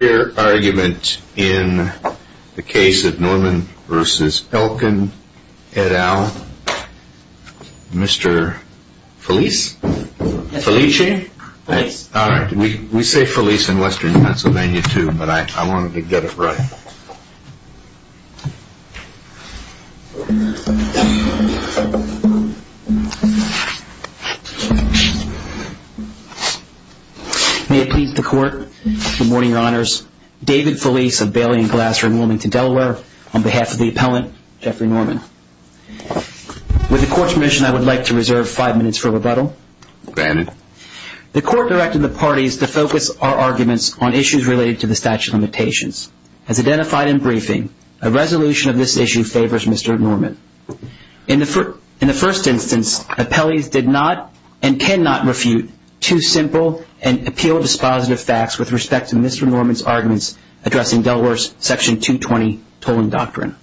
in the case of Norman v. Elkin et al. Mr. Felice? Felice? Alright, we say Felice in Western Pennsylvania too, but I wanted to get it right. May it please the court, good morning, your honors. David Felice of Bailey and Glasser in Wilmington, Delaware, on behalf of the appellant, Jeffrey Norman. With the court's permission, I would like to reserve five minutes for rebuttal. The court directed the parties to focus our arguments on issues related to the statute of limitations. As identified in briefing, a resolution of this issue favors Mr. Norman. In the first instance, appellees did not and cannot refute two simple and appeal-dispositive facts with respect to Mr. Norman's arguments addressing Delaware's section 220 tolling doctrine.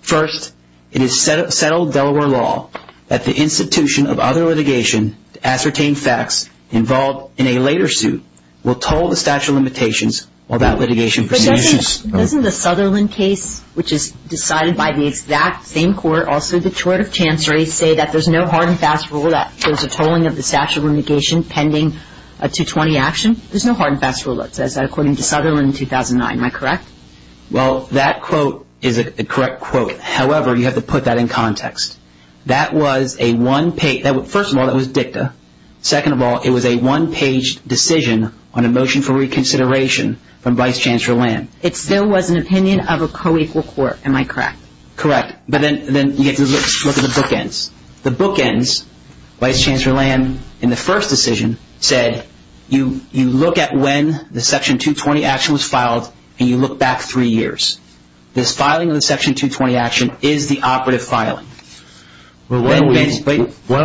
First, it is settled Delaware law that the institution of other litigation to ascertain facts involved in a later suit will toll the statute of limitations while that litigation persists. But doesn't the Sutherland case, which is decided by the exact same court, also the tort of chancery, say that there's no hard and fast rule that there's a tolling of the statute of litigation pending a 220 action? There's no hard and fast rule that says that according to Sutherland in 2009. Am I correct? Well, that quote is a correct quote. However, you have to put that in context. That was a one page. First of all, that was dicta. Second of all, it was a one page decision on a motion for reconsideration from Vice Chancellor Lamb. It still was an opinion of a co-equal court. Am I correct? Correct. But then you have to look at the bookends. The bookends, Vice Chancellor Lamb in the first decision said you look at when the section 220 action was filed and you look back three years. This filing of the section 220 action is the operative filing. Why don't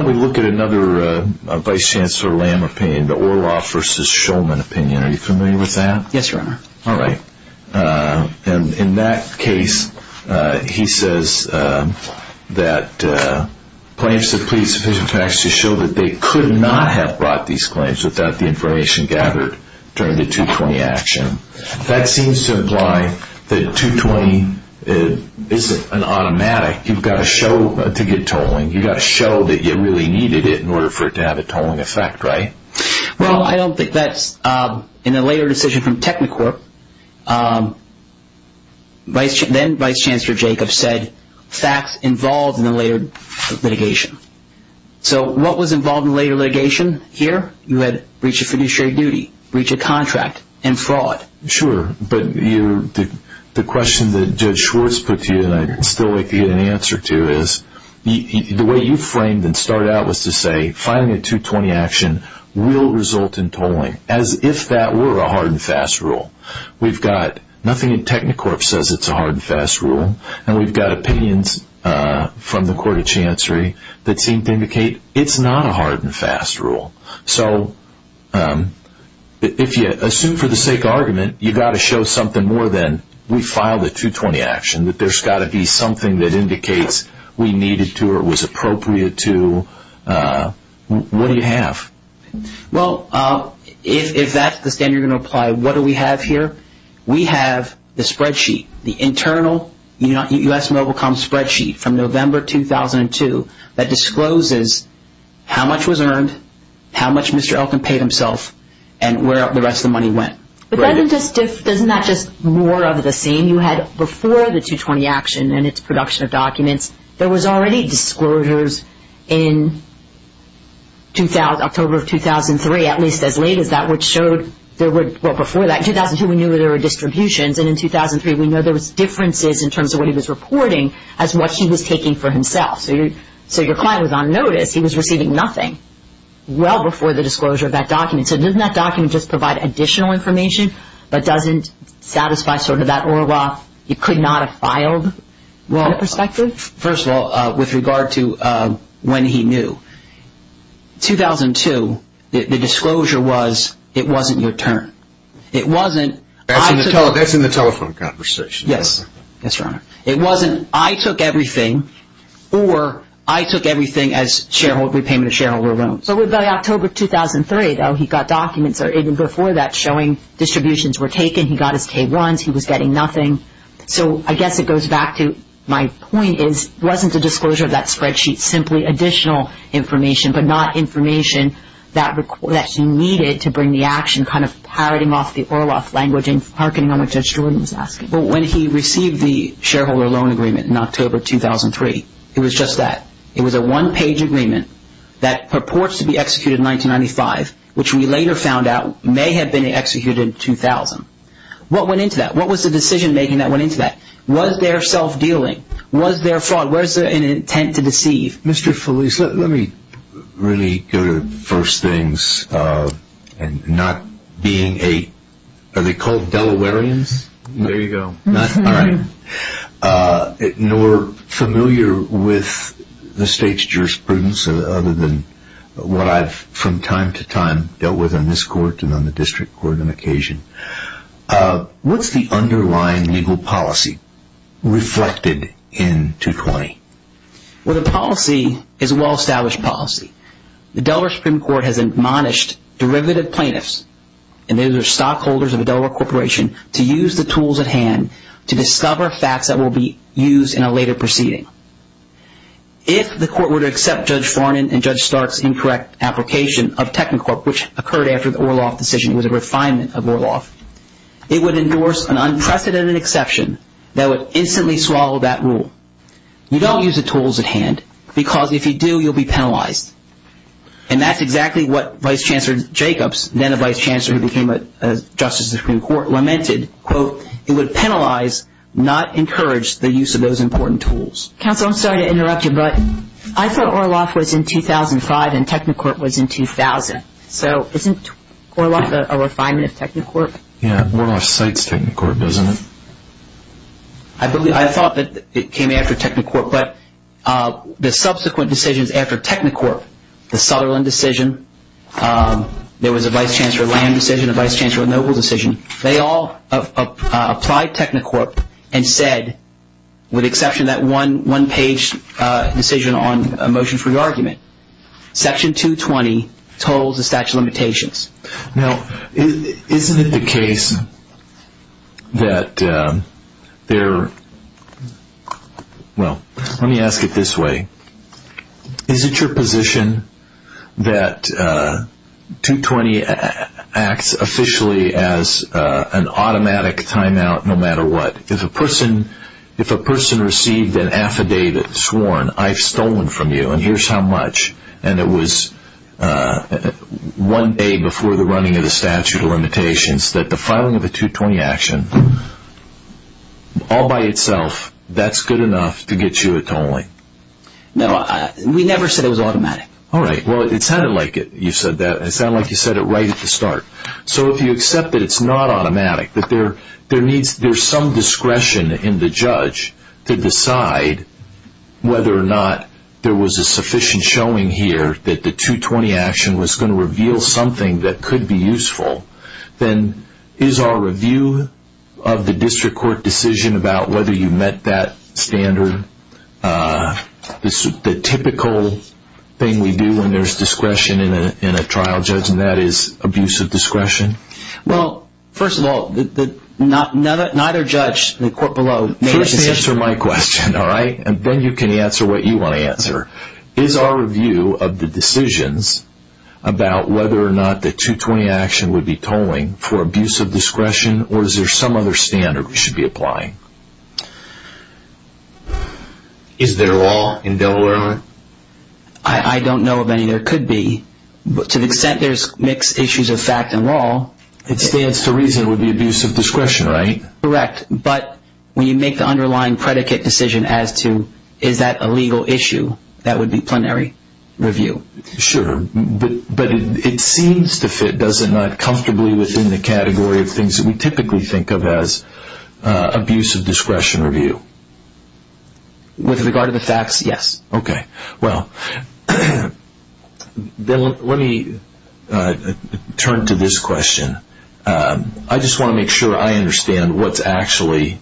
we look at another Vice Chancellor Lamb opinion, the Orloff versus Shulman opinion. Are you familiar with that? All right. In that case, he says that claims to plead sufficient facts to show that they could not have brought these claims without the information gathered during the 220 action. That seems to imply that 220 isn't an automatic. You've got to show to get tolling. You've got to show that you really needed it in order for it to have a tolling effect, right? Well, I don't think that's in a later decision from Technicorp. Then Vice Chancellor Jacobs said facts involved in the later litigation. So what was involved in the later litigation here? You had breach of fiduciary duty, breach of contract, and fraud. Sure. But the question that Judge Schwartz put to you, and I'd still like to get an answer to, is the way you framed and started out was to say filing a 220 action will result in tolling. As if that were a hard and fast rule. We've got nothing in Technicorp that says it's a hard and fast rule. And we've got opinions from the Court of Chancery that seem to indicate it's not a hard and fast rule. So if you assume for the sake of argument, you've got to show something more than we filed a 220 action, that there's got to be something that indicates we needed to or was appropriate to. What do you have? Well, if that's the standard you're going to apply, what do we have here? We have the spreadsheet, the internal U.S. Mobile Com spreadsheet from November 2002 that discloses how much was earned, how much Mr. Elkin paid himself, and where the rest of the money went. But doesn't that just more of the same? You had before the 220 action and its production of documents, there was already disclosures in October of 2003, at least as late as that, which showed there were, well, before that, in 2002 we knew there were distributions, and in 2003 we know there was differences in terms of what he was reporting as what he was taking for himself. So your client was on notice, he was receiving nothing well before the disclosure of that document. So doesn't that document just provide additional information, but doesn't satisfy sort of that Orwell, you could not have filed perspective? First of all, with regard to when he knew, 2002, the disclosure was, it wasn't your turn. It wasn't, I took everything, or I took everything as repayment of shareholder loans. So by October 2003, though, he got documents, or even before that, showing distributions were taken, he got his K1s, he was getting nothing. So I guess it goes back to, my point is, it wasn't a disclosure of that spreadsheet, simply additional information, but not information that he needed to bring the action, kind of parroting off the Orwell language and harkening on what Judge Jordan was asking. But when he received the shareholder loan agreement in October 2003, it was just that. It was a one-page agreement that purports to be executed in 1995, which we later found out may have been executed in 2000. What went into that? What was the decision-making that went into that? Was there self-dealing? Was there fraud? Was there an intent to deceive? Mr. Felice, let me really go to the first things, and not being a, are they called Delawareans? There you go. All right. Nor familiar with the state's jurisprudence, other than what I've, from time to time, dealt with on this court and on the district court on occasion. What's the underlying legal policy reflected in 220? Well, the policy is a well-established policy. The Delaware Supreme Court has admonished derivative plaintiffs, and those are stockholders of a Delaware corporation, to use the tools at hand to discover facts that will be used in a later proceeding. If the court were to accept Judge Farnan and Judge Stark's incorrect application of Technicorp, which occurred after the Orloff decision, it was a refinement of Orloff, it would endorse an unprecedented exception that would instantly swallow that rule. You don't use the tools at hand, because if you do, you'll be penalized. And that's exactly what Vice Chancellor Jacobs, then a vice chancellor who became a justice of the Supreme Court, lamented, quote, it would penalize, not encourage the use of those important tools. Counsel, I'm sorry to interrupt you, but I thought Orloff was in 2005, and Technicorp was in 2000. So isn't Orloff a refinement of Technicorp? Yeah, Orloff cites Technicorp, doesn't it? I thought that it came after Technicorp, but the subsequent decisions after Technicorp, the Sutherland decision, there was a vice chancellor Lamb decision, a vice chancellor Noble decision, they all applied Technicorp and said, with the exception of that one-page decision on a motion for re-argument, section 220 totals the statute of limitations. Now, isn't it the case that there, well, let me ask it this way. Is it your position that 220 acts officially as an automatic timeout no matter what? If a person received an affidavit sworn, I've stolen from you, and here's how much, and it was one day before the running of the statute of limitations, that the filing of a 220 action, all by itself, that's good enough to get you a tolling? No, we never said it was automatic. All right, well, it sounded like it, you said that. It sounded like you said it right at the start. So if you accept that it's not automatic, that there's some discretion in the judge to decide whether or not there was a sufficient showing here that the 220 action was going to reveal something that could be useful, then is our review of the district court decision about whether you met that standard, the typical thing we do when there's discretion in a trial judge, and that is abuse of discretion? Well, first of all, neither judge, the court below, made a decision. Answer my question, all right, and then you can answer what you want to answer. Is our review of the decisions about whether or not the 220 action would be tolling for abuse of discretion, or is there some other standard we should be applying? Is there law in Delaware? I don't know of any there could be. To the extent there's mixed issues of fact and law. It stands to reason it would be abuse of discretion, right? Correct, but when you make the underlying predicate decision as to is that a legal issue, that would be plenary review. Sure, but it seems to fit, does it not, comfortably within the category of things that we typically think of as abuse of discretion review? With regard to the facts, yes. Okay, well, let me turn to this question. I just want to make sure I understand what's actually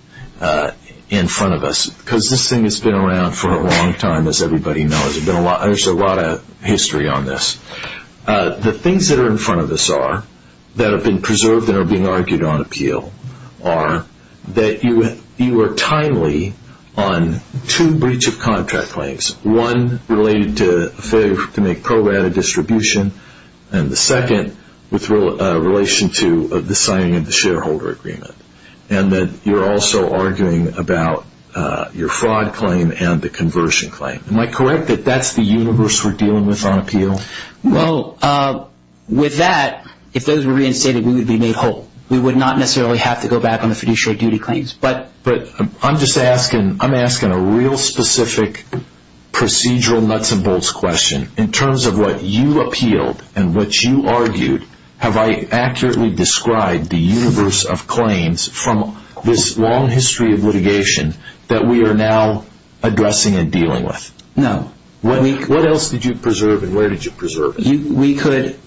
in front of us, because this thing has been around for a long time, as everybody knows. There's a lot of history on this. The things that are in front of us are, that have been preserved and are being argued on appeal, are that you are timely on two breach of contract claims. One related to failure to make programmatic distribution, and the second with relation to the signing of the shareholder agreement, and that you're also arguing about your fraud claim and the conversion claim. Am I correct that that's the universe we're dealing with on appeal? Well, with that, if those were reinstated, we would be made whole. We would not necessarily have to go back on the fiduciary duty claims. But I'm just asking, I'm asking a real specific procedural nuts and bolts question in terms of what you appealed and what you argued. Have I accurately described the universe of claims from this long history of litigation that we are now addressing and dealing with? No. What else did you preserve and where did you preserve it? We could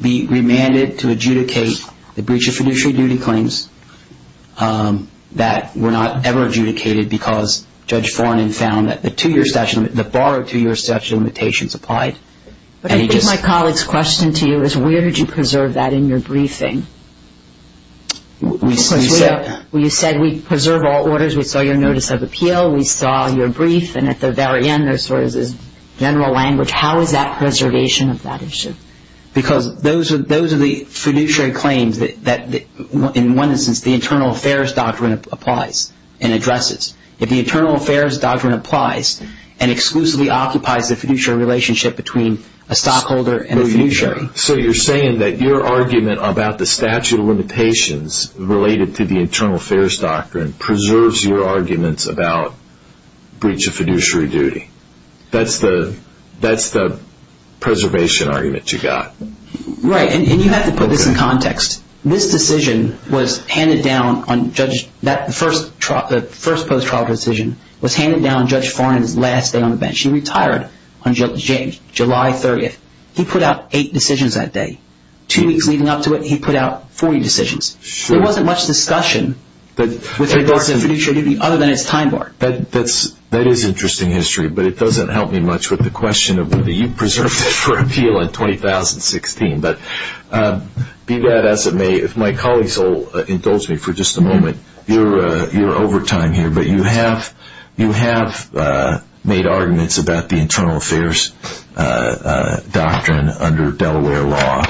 be remanded to adjudicate the breach of fiduciary duty claims that were not ever adjudicated because Judge Foranen found that the two-year statute, the borrowed two-year statute of limitations applied. But I think my colleague's question to you is where did you preserve that in your briefing? Well, you said we preserve all orders. We saw your notice of appeal. We saw your brief. And at the very end, there's sort of this general language. How is that preservation of that issue? Because those are the fiduciary claims that, in one instance, the Internal Affairs Doctrine applies and addresses. If the Internal Affairs Doctrine applies and exclusively occupies the fiduciary relationship between a stockholder and a fiduciary. So you're saying that your argument about the statute of limitations related to the Internal Affairs Doctrine preserves your arguments about breach of fiduciary duty. That's the preservation argument you got. Right. And you have to put this in context. This decision was handed down on Judge Foranen's last day on the bench. He retired on July 30th. He put out eight decisions that day. Two weeks leading up to it, he put out 40 decisions. There wasn't much discussion with regards to fiduciary duty other than its time bar. That is interesting history, but it doesn't help me much with the question of whether you preserved it for appeal in 2016. But be that as it may, if my colleagues will indulge me for just a moment, you're over time here, but you have made arguments about the Internal Affairs Doctrine under Delaware law.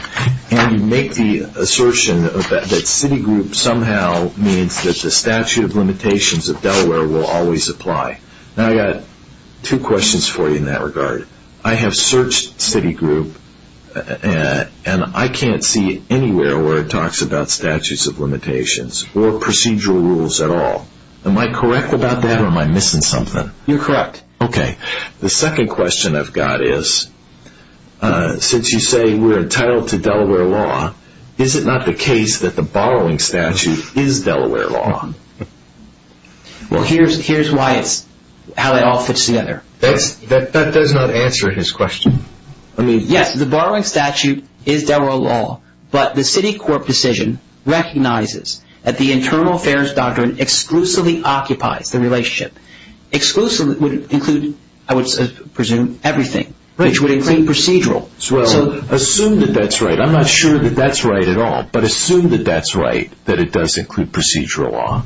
And you make the assertion that Citigroup somehow means that the statute of limitations of Delaware will always apply. Now I've got two questions for you in that regard. I have searched Citigroup and I can't see anywhere where it talks about statutes of limitations or procedural rules at all. Am I correct about that or am I missing something? You're correct. The second question I've got is, since you say we're entitled to Delaware law, is it not the case that the borrowing statute is Delaware law? Here's how it all fits together. That does not answer his question. Yes, the borrowing statute is Delaware law, but the Citigroup decision recognizes that the Internal Affairs Doctrine exclusively occupies the relationship. Exclusively would include, I would presume, everything, which would include procedural. Assume that that's right. I'm not sure that that's right at all, but assume that that's right, that it does include procedural law.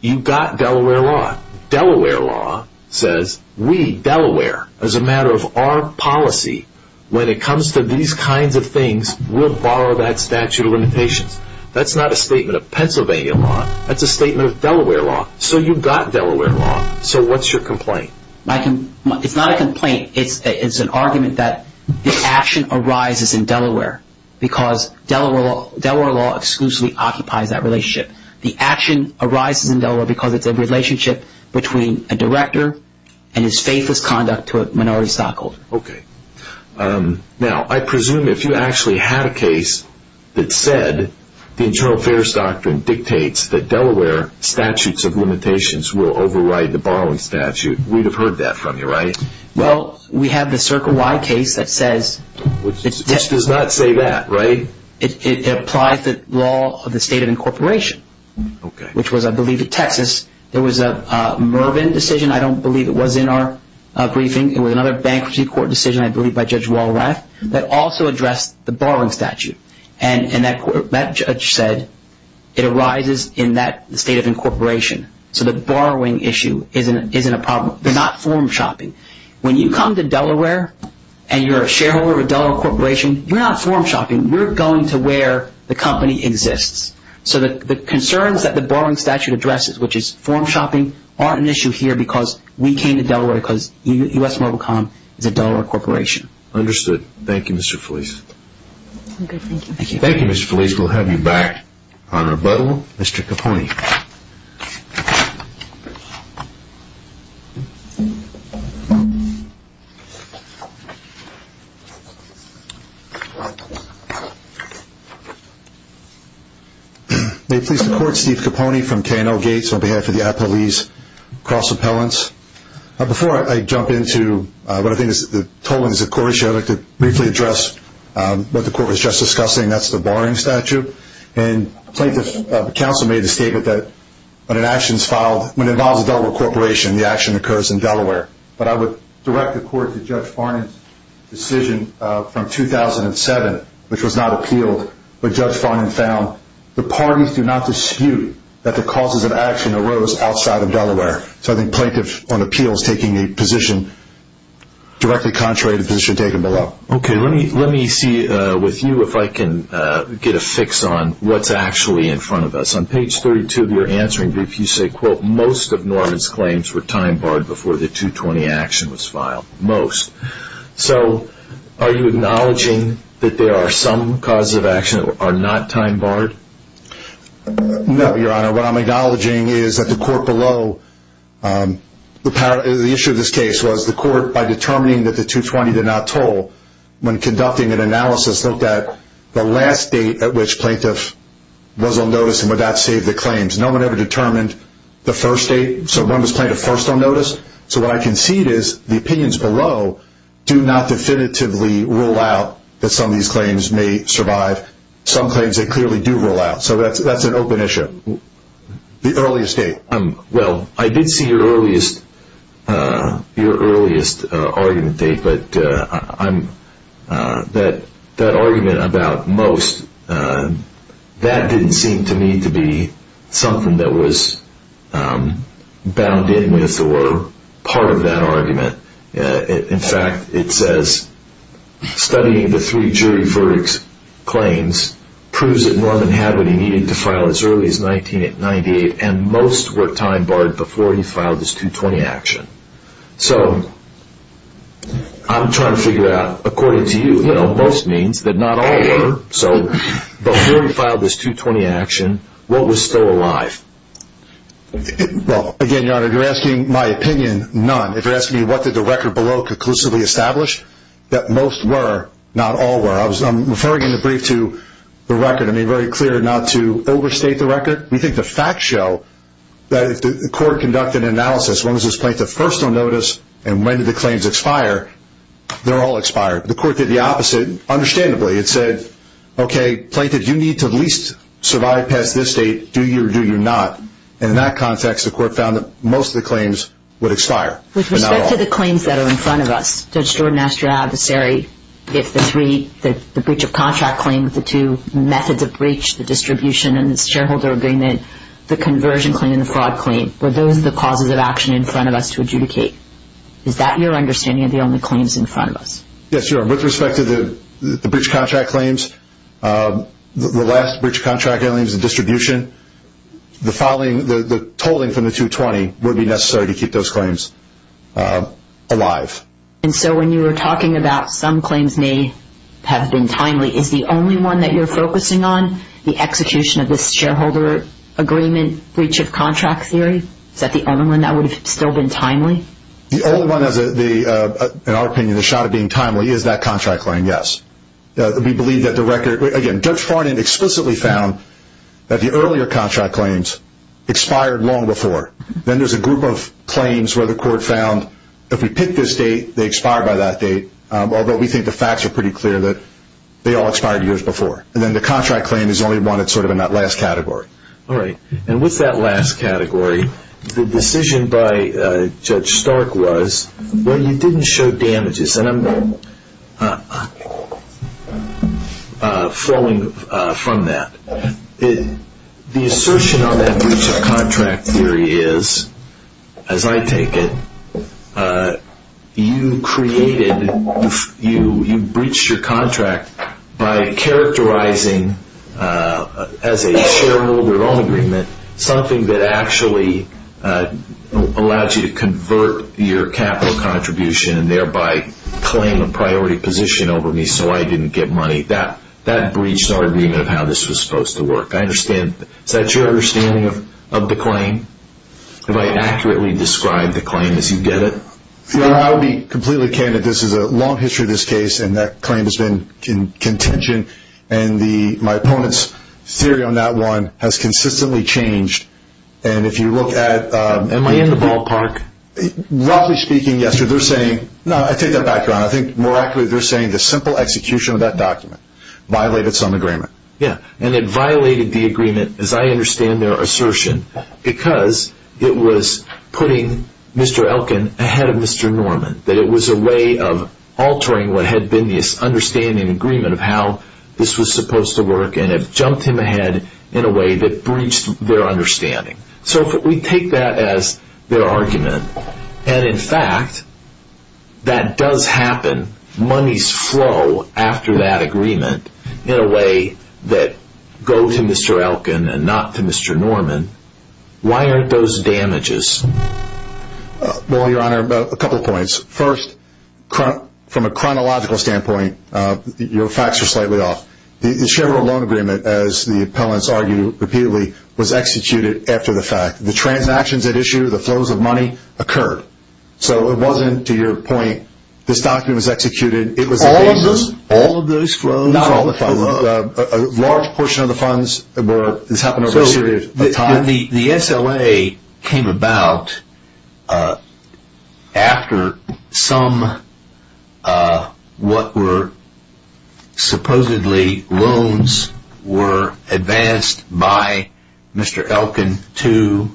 You've got Delaware law. Delaware law says, we, Delaware, as a matter of our policy, when it comes to these kinds of things, we'll borrow that statute of limitations. That's not a statement of Pennsylvania law. That's a statement of Delaware law. So you've got Delaware law. So what's your complaint? It's not a complaint. It's an argument that the action arises in Delaware because Delaware law exclusively occupies that relationship. The action arises in Delaware because it's a relationship between a director and his faithless conduct to a minority stockholder. Okay. Now, I presume if you actually had a case that said the Internal Affairs Doctrine dictates that Delaware statutes of limitations will override the borrowing statute, we'd have heard that from you, right? Well, we have the Circle Y case that says... Which does not say that, right? It applies the law of the state of incorporation, which was, I believe, in Texas. There was a Mervyn decision. I don't believe it was in our briefing. It was another bankruptcy court decision, I believe, by Judge Walrath that also addressed the borrowing statute. And that judge said it arises in that state of incorporation. So the borrowing issue isn't a problem. They're not form shopping. When you come to Delaware and you're a shareholder of a Delaware corporation, you're not form shopping. We're going to where the company exists. So the concerns that the borrowing statute addresses, which is form shopping, aren't an issue here because we came to Delaware because U.S. Mobile Com is a Delaware corporation. Understood. Thank you, Mr. Felice. Thank you. Thank you, Mr. Felice. We'll have you back on rebuttal. Mr. Capone. May it please the Court, Steve Capone from K&O Gates on behalf of the Appellees Cross Appellants. Before I jump into what I think is the totaling of the court issue, I'd like to briefly address what the Court was just discussing. That's the borrowing statute. And the plaintiff's counsel made the statement that when it involves a Delaware corporation, the action occurs in Delaware. But I would direct the Court to Judge Farnan's decision from 2007, which was not appealed. But Judge Farnan found the parties do not dispute that the causes of action arose outside of Delaware. So I think plaintiff on appeal is taking a position directly contrary to the position taken below. Okay. Let me see with you if I can get a fix on what's actually in front of us. On page 32 of your answering brief, you say, quote, most of Norman's claims were time-barred before the 220 action was filed. Most. So are you acknowledging that there are some causes of action that are not time-barred? No, Your Honor. Your Honor, what I'm acknowledging is that the Court below, the issue of this case was the Court, by determining that the 220 did not toll, when conducting an analysis, looked at the last date at which plaintiff was on notice and would that save the claims. No one ever determined the first date. So when was plaintiff first on notice? So what I can see is the opinions below do not definitively rule out that some of these claims may survive. Some claims, they clearly do rule out. So that's an open issue. The earliest date. Well, I did see your earliest argument date, but that argument about most, that didn't seem to me to be something that was bound in with or part of that argument. In fact, it says, studying the three jury verdicts claims proves that Norman had what he needed to file as early as 1998 and most were time-barred before he filed this 220 action. So I'm trying to figure out, according to you, most means, but not all were. So before he filed this 220 action, what was still alive? Again, Your Honor, you're asking my opinion, none. If you're asking me what did the record below conclusively establish, that most were, not all were. I'm referring in the brief to the record. I made it very clear not to overstate the record. We think the facts show that if the court conducted an analysis, when was this plaintiff first on notice and when did the claims expire, they're all expired. The court did the opposite, understandably. It said, okay, plaintiff, you need to at least survive past this date. Do you or do you not? And in that context, the court found that most of the claims would expire, but not all. With respect to the claims that are in front of us, Judge Jordan asked your adversary if the three, the breach of contract claim, the two methods of breach, the distribution and the shareholder agreement, the conversion claim and the fraud claim, were those the causes of action in front of us to adjudicate? Is that your understanding of the only claims in front of us? Yes, Your Honor. With respect to the breach of contract claims, the last breach of contract claims, the distribution, the tolling from the 220 would be necessary to keep those claims alive. And so when you were talking about some claims may have been timely, is the only one that you're focusing on the execution of this shareholder agreement breach of contract theory? Is that the only one that would have still been timely? The only one, in our opinion, the shot at being timely is that contract claim, yes. We believe that the record, again, Judge Farnan explicitly found that the earlier contract claims expired long before. Then there's a group of claims where the court found if we pick this date, they expire by that date, although we think the facts are pretty clear that they all expired years before. And then the contract claim is the only one that's sort of in that last category. All right. And what's that last category? The decision by Judge Stark was, well, you didn't show damages. And I'm flowing from that. The assertion on that breach of contract theory is, as I take it, you created, you breached your contract by characterizing as a shareholder loan agreement something that actually allows you to convert your capital contribution and thereby claim a priority position over me so I didn't get money. That breached our agreement of how this was supposed to work. I understand. Is that your understanding of the claim? Have I accurately described the claim as you get it? I'll be completely candid. This is a long history of this case, and that claim has been in contention. My opponent's theory on that one has consistently changed. Am I in the ballpark? Roughly speaking, yes. I take that back, Ron. I think more accurately they're saying the simple execution of that document violated some agreement. Yeah, and it violated the agreement, as I understand their assertion, because it was putting Mr. Elkin ahead of Mr. Norman, that it was a way of altering what had been this understanding agreement of how this was supposed to work and it jumped him ahead in a way that breached their understanding. So if we take that as their argument, and in fact that does happen, monies flow after that agreement in a way that go to Mr. Elkin and not to Mr. Norman, why aren't those damages? Well, Your Honor, a couple of points. First, from a chronological standpoint, your facts are slightly off. The Chevrolet loan agreement, as the appellants argue repeatedly, was executed after the fact. The transactions at issue, the flows of money, occurred. So it wasn't, to your point, this document was executed. All of those flows? Not all the funds. A large portion of the funds, this happened over a period of time. When the SLA came about, after some, what were supposedly loans, were advanced by Mr. Elkin to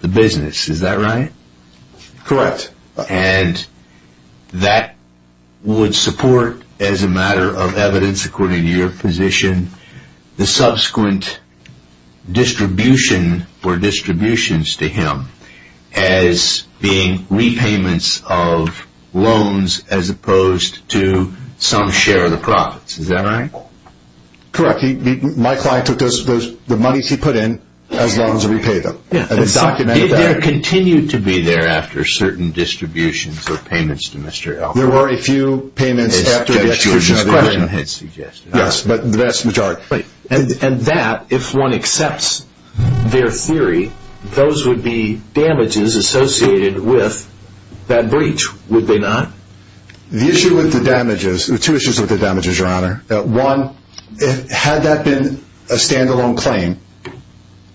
the business, is that right? Correct. And that would support, as a matter of evidence, according to your position, the subsequent distribution or distributions to him as being repayments of loans as opposed to some share of the profits. Is that right? Correct. My client took the monies he put in as loans to repay them. It was documented. It continued to be there after certain distributions or payments to Mr. Elkin. There were a few payments after the execution of the agreement. Yes, but the vast majority. And that, if one accepts their theory, those would be damages associated with that breach, would they not? The issue with the damages, there are two issues with the damages, Your Honor. One, had that been a stand-alone claim,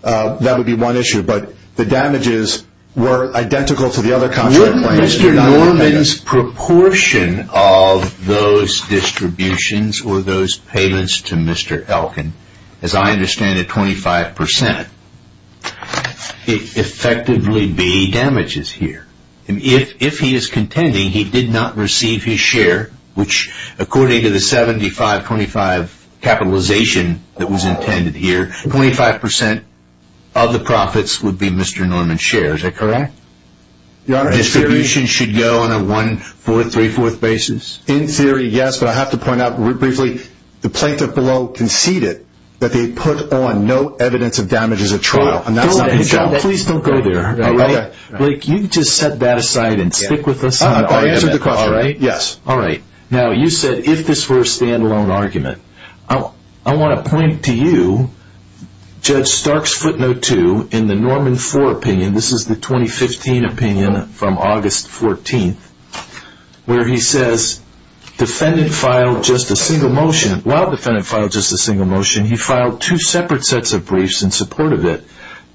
that would be one issue, but the damages were identical to the other contract claims. Mr. Norman's proportion of those distributions or those payments to Mr. Elkin, as I understand it, 25%, it effectively be damages here. If he is contending he did not receive his share, which according to the 75-25 capitalization that was intended here, 25% of the profits would be Mr. Norman's share, is that correct? The distribution should go on a 1-4-3-4 basis? In theory, yes, but I have to point out briefly, the plaintiff below conceded that they put on no evidence of damages at trial. Please don't go there. Blake, you can just set that aside and stick with us on the argument. I answered the question. Now, you said if this were a stand-alone argument. I want to point to you, Judge Stark's footnote 2 in the Norman 4 opinion, this is the 2015 opinion from August 14th, where he says, while the defendant filed just a single motion, he filed two separate sets of briefs in support of it.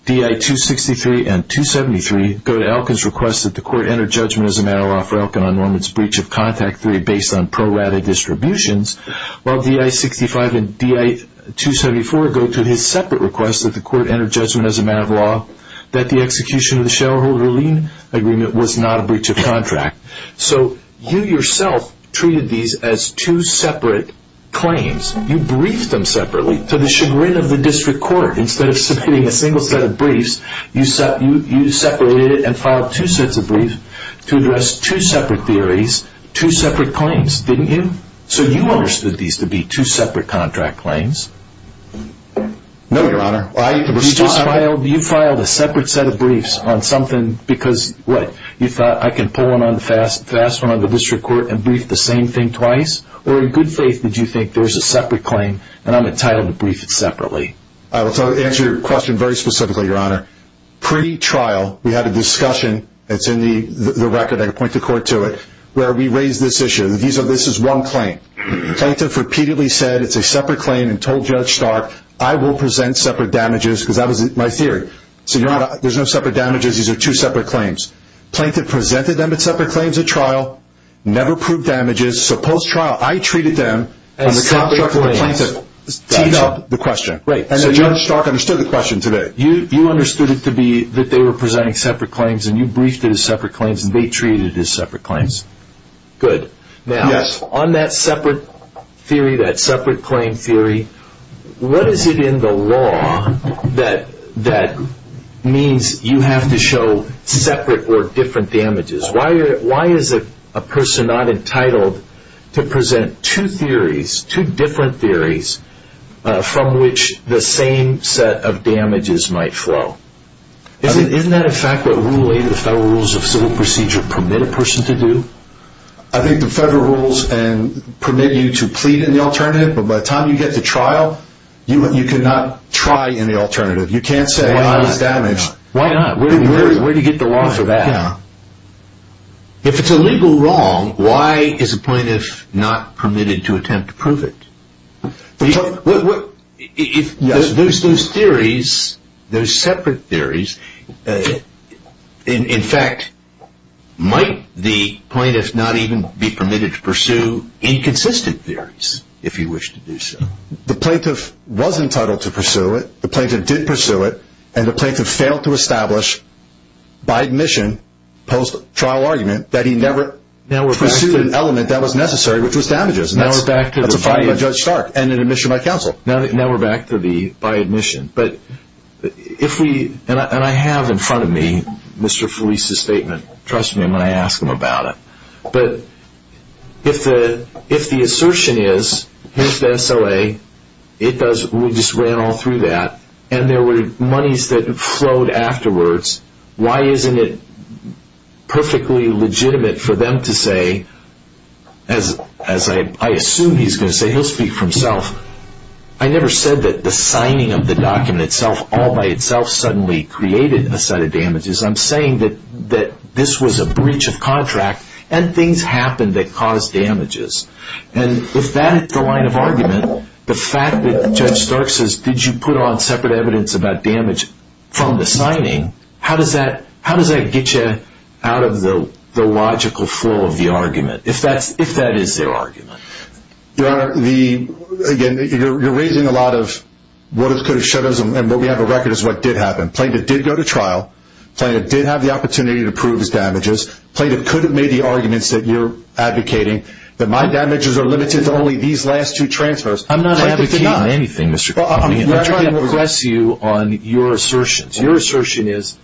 DI-263 and 273 go to Elkin's request that the court enter judgment as a matter of law for Elkin on Norman's breach of contact 3 based on pro-rata distributions, while DI-65 and DI-274 go to his separate request that the court enter judgment as a matter of law that the execution of the shareholder lien agreement was not a breach of contract. So you yourself treated these as two separate claims. You briefed them separately. To the chagrin of the district court, instead of submitting a single set of briefs, you separated it and filed two sets of briefs to address two separate theories, two separate claims, didn't you? So you understood these to be two separate contract claims. No, Your Honor. You filed a separate set of briefs on something because, what, you thought I could pull one on the district court and brief the same thing twice? Or in good faith did you think there's a separate claim and I'm entitled to brief it separately? I will answer your question very specifically, Your Honor. Pre-trial, we had a discussion, it's in the record, I can point the court to it, where we raised this issue that this is one claim. Plaintiff repeatedly said it's a separate claim and told Judge Stark, I will present separate damages because that was my theory. So, Your Honor, there's no separate damages. These are two separate claims. Plaintiff presented them as separate claims at trial, never proved damages. So post-trial, I treated them on the contract of the plaintiff. And separate claims. Teed up the question. Right. So Judge Stark understood the question today. You understood it to be that they were presenting separate claims and you briefed it as separate claims and they treated it as separate claims. Good. Yes. On that separate theory, that separate claim theory, what is it in the law that means you have to show separate or different damages? Why is a person not entitled to present two theories, two different theories from which the same set of damages might flow? Isn't that a fact that Rule 8 of the Federal Rules of Civil Procedure permit a person to do? I think the Federal Rules permit you to plead in the alternative, but by the time you get to trial, you cannot try in the alternative. You can't say, well, I was damaged. Why not? Where do you get the law for that? If it's a legal wrong, why is a plaintiff not permitted to attempt to prove it? Those theories, those separate theories, in fact, might the plaintiff not even be permitted to pursue inconsistent theories, if you wish to do so? The plaintiff was entitled to pursue it, the plaintiff did pursue it, and the plaintiff failed to establish, by admission, post-trial argument, that he never pursued an element that was necessary, which was damages. That's a fine by Judge Stark. And an admission by counsel. Now we're back to the by admission. And I have in front of me Mr. Felice's statement. Trust me when I ask him about it. But if the assertion is, here's the SLA, we just ran all through that, and there were monies that flowed afterwards, why isn't it perfectly legitimate for them to say, as I assume he's going to say, he'll speak for himself, I never said that the signing of the document itself, all by itself, suddenly created a set of damages. I'm saying that this was a breach of contract, and things happened that caused damages. And if that is the line of argument, the fact that Judge Stark says, did you put on separate evidence about damage from the signing, how does that get you out of the logical flow of the argument? If that is their argument. Your Honor, again, you're raising a lot of what could have shut us, and what we have on record is what did happen. The plaintiff did go to trial. The plaintiff did have the opportunity to prove his damages. The plaintiff could have made the arguments that you're advocating, that my damages are limited to only these last two transfers. I'm not advocating anything, Mr. Capone. I'm trying to impress you on your assertions. Your assertion is,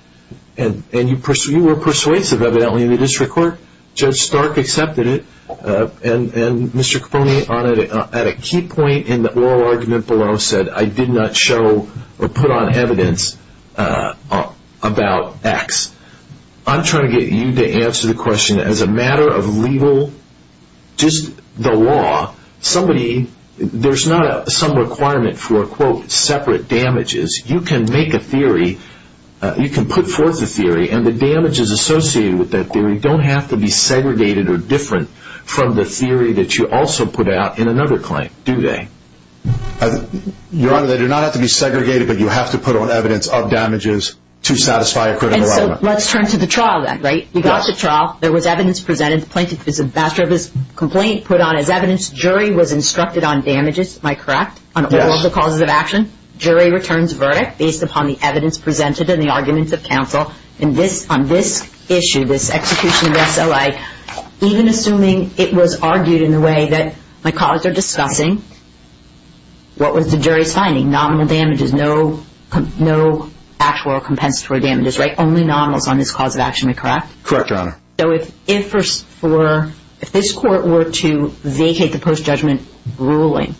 and you were persuasive, evidently, in the district court. Judge Stark accepted it, and Mr. Capone, at a key point in the oral argument below, said I did not show or put on evidence about X. I'm trying to get you to answer the question as a matter of legal, just the law. Somebody, there's not some requirement for, quote, separate damages. You can make a theory, you can put forth a theory, and the damages associated with that theory don't have to be segregated or different from the theory that you also put out in another claim, do they? Your Honor, they do not have to be segregated, but you have to put on evidence of damages to satisfy a critical argument. And so let's turn to the trial then, right? You got to trial. There was evidence presented. The plaintiff is a master of his complaint, put on as evidence. Jury was instructed on damages, am I correct? Yes. On all the causes of action. Jury returns verdict based upon the evidence presented and the arguments of counsel. And on this issue, this execution of SLA, even assuming it was argued in the way that my colleagues are discussing, what was the jury's finding? Nominal damages, no actual compensatory damages, right? Only nominals on this cause of action, am I correct? Correct, Your Honor. So if this court were to vacate the post-judgment ruling,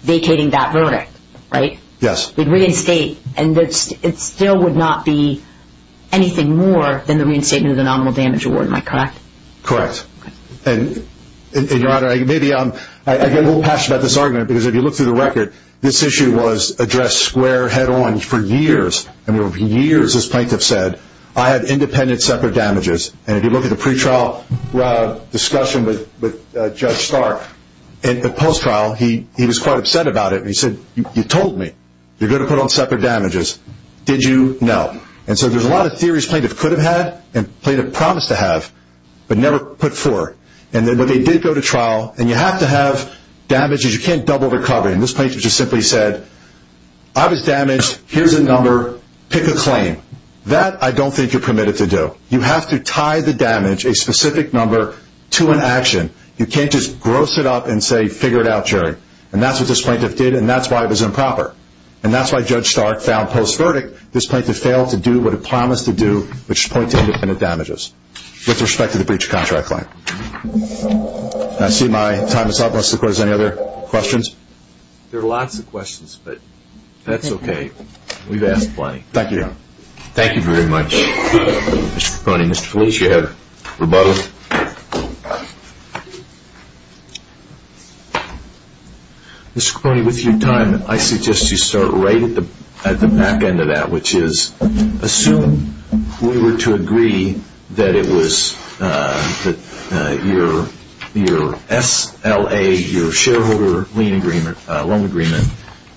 vacating that verdict, right? Yes. It would reinstate and it still would not be anything more than the reinstatement of the nominal damage award, am I correct? Correct. And, Your Honor, I get a little passionate about this argument because if you look through the record, this issue was addressed square head on for years. And for years this plaintiff said, I had independent separate damages. And if you look at the pretrial discussion with Judge Stark, in the post-trial, he was quite upset about it. He said, you told me you're going to put on separate damages. Did you? No. And so there's a lot of theories plaintiff could have had and plaintiff promised to have, but never put forth. And then when they did go to trial, and you have to have damages, you can't double the covering. That I don't think you're permitted to do. You have to tie the damage, a specific number, to an action. You can't just gross it up and say, figure it out, Jerry. And that's what this plaintiff did, and that's why it was improper. And that's why Judge Stark found post-verdict this plaintiff failed to do what it promised to do, which is point to independent damages with respect to the breach of contract claim. I see my time is up. Mr. Court, any other questions? There are lots of questions, but that's okay. We've asked plenty. Thank you. Thank you very much, Mr. Cronin. Mr. Felice, you have rebuttal. Mr. Cronin, with your time, I suggest you start right at the back end of that, which is assume we were to agree that it was your SLA, your shareholder loan agreement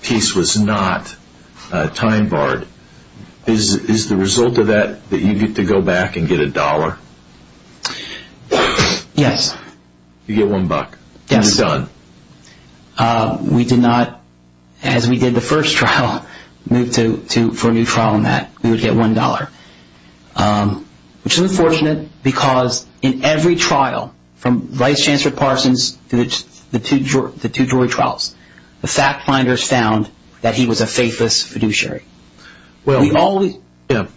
piece was not time barred. Is the result of that that you get to go back and get a dollar? Yes. You get one buck. Yes. You're done. We did not, as we did the first trial, move for a new trial on that. We would get one dollar, which is unfortunate because in every trial, from Vice Chancellor Parsons to the two jury trials, the fact finders found that he was a faithless fiduciary. Maybe Mr.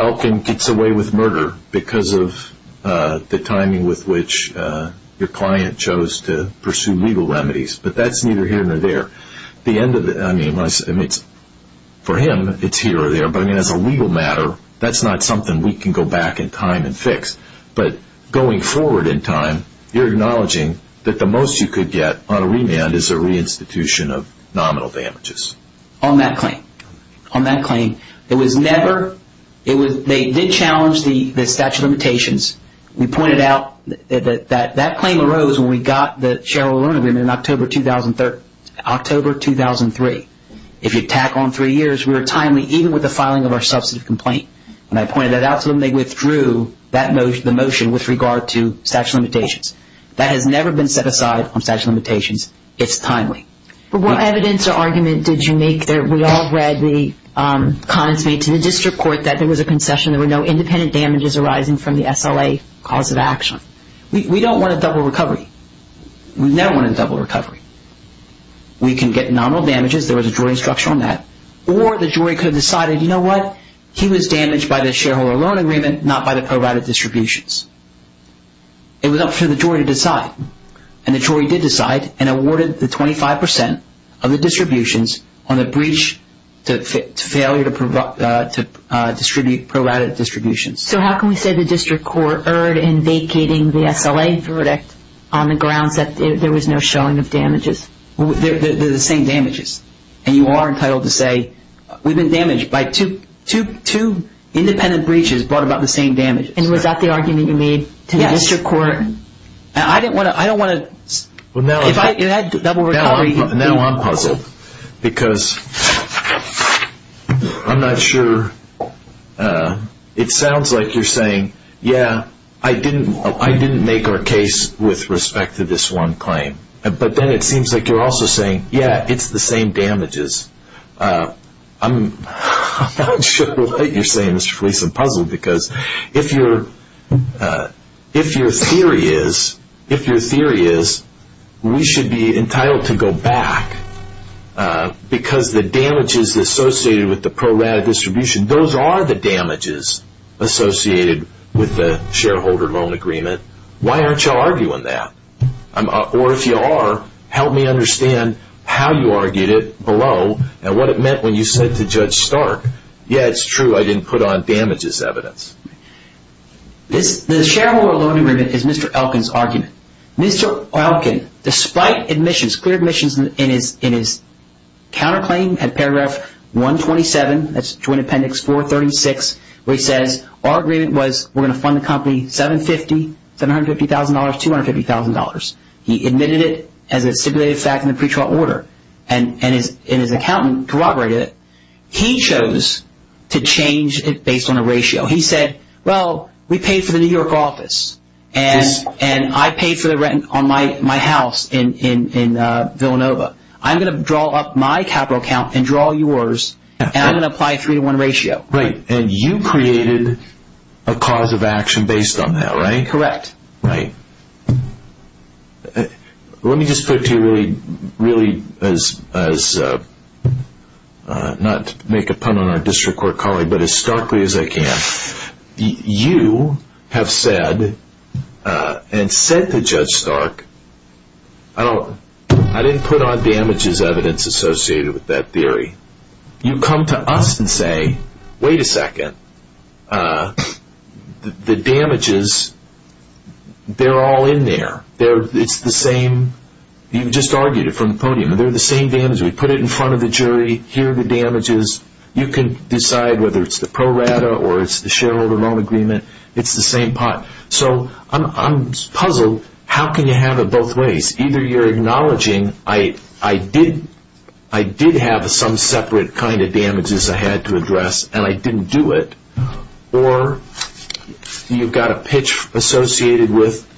Elkin gets away with murder because of the timing with which your client chose to pursue legal remedies, but that's neither here nor there. For him, it's here or there, but as a legal matter, that's not something we can go back in time and fix. But going forward in time, you're acknowledging that the most you could get on a remand is a reinstitution of nominal damages. On that claim. On that claim. They did challenge the statute of limitations. We pointed out that that claim arose when we got the shareholder loan agreement in October 2003. If you tack on three years, we were timely, even with the filing of our substantive complaint. And I pointed that out to them. They withdrew the motion with regard to statute of limitations. That has never been set aside on statute of limitations. It's timely. But what evidence or argument did you make? We all read the comments made to the district court that there was a concession. There were no independent damages arising from the SLA cause of action. We don't want a double recovery. We never want a double recovery. We can get nominal damages. There was a jury instruction on that. Or the jury could have decided, you know what? He was damaged by the shareholder loan agreement, not by the prorouted distributions. It was up to the jury to decide. And the jury did decide and awarded the 25% of the distributions on the breach to failure to distribute prorouted distributions. So how can we say the district court erred in vacating the SLA verdict on the grounds that there was no showing of damages? They're the same damages. And you are entitled to say, we've been damaged by two independent breaches brought about the same damage. And was that the argument you made to the district court? Yes. And I don't want to – if I – Now I'm puzzled. Because I'm not sure – it sounds like you're saying, yeah, I didn't make our case with respect to this one claim. But then it seems like you're also saying, yeah, it's the same damages. I'm not sure what you're saying, Mr. Felice. I'm puzzled. Because if your theory is, we should be entitled to go back because the damages associated with the prorouted distribution, those are the damages associated with the shareholder loan agreement. Why aren't you arguing that? Or if you are, help me understand how you argued it below and what it meant when you said to Judge Stark, yeah, it's true, I didn't put on damages evidence. The shareholder loan agreement is Mr. Elkin's argument. Mr. Elkin, despite admissions, clear admissions in his counterclaim at paragraph 127, that's Joint Appendix 436, where he says our agreement was we're going to fund the company $750,000, $750,000, $250,000. He admitted it as a stipulated fact in the pretrial order, and his accountant corroborated it. He chose to change it based on a ratio. He said, well, we paid for the New York office, and I paid for the rent on my house in Villanova. I'm going to draw up my capital account and draw yours, and I'm going to apply a three-to-one ratio. Right, and you created a cause of action based on that, right? Correct. Right. Let me just put it to you really as, not to make a pun on our district court colleague, but as starkly as I can. You have said, and said to Judge Stark, I didn't put on damages evidence associated with that theory. You come to us and say, wait a second, the damages, they're all in there. It's the same. You just argued it from the podium. They're the same damages. We put it in front of the jury. Here are the damages. You can decide whether it's the pro rata or it's the shareholder loan agreement. It's the same pot. So I'm puzzled. How can you have it both ways? Either you're acknowledging I did have some separate kind of damages I had to address, and I didn't do it. Or you've got a pitch associated with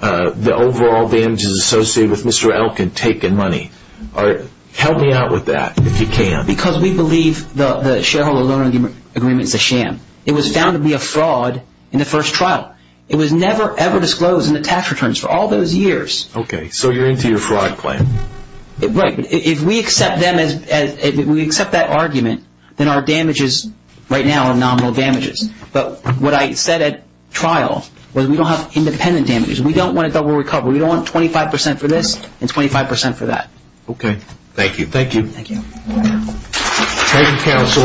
the overall damages associated with Mr. Elkin taking money. Help me out with that if you can. Not because we believe the shareholder loan agreement is a sham. It was found to be a fraud in the first trial. It was never, ever disclosed in the tax returns for all those years. Okay, so you're into your fraud plan. Right. If we accept that argument, then our damages right now are nominal damages. But what I said at trial was we don't have independent damages. We don't want a double recovery. We don't want 25% for this and 25% for that. Okay. Thank you. Thank you. Thank you, counsel.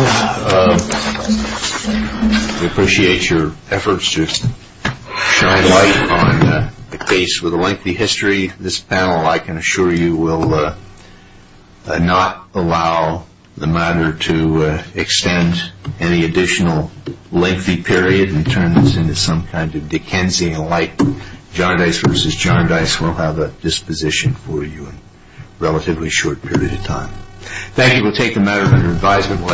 We appreciate your efforts to shine light on a case with a lengthy history. This panel, I can assure you, will not allow the matter to extend any additional lengthy period and turn this into some kind of Dickensian-like John Dice versus John Dice. We'll have a disposition for you in a relatively short period of time. Thank you. We'll take the matter under advisement.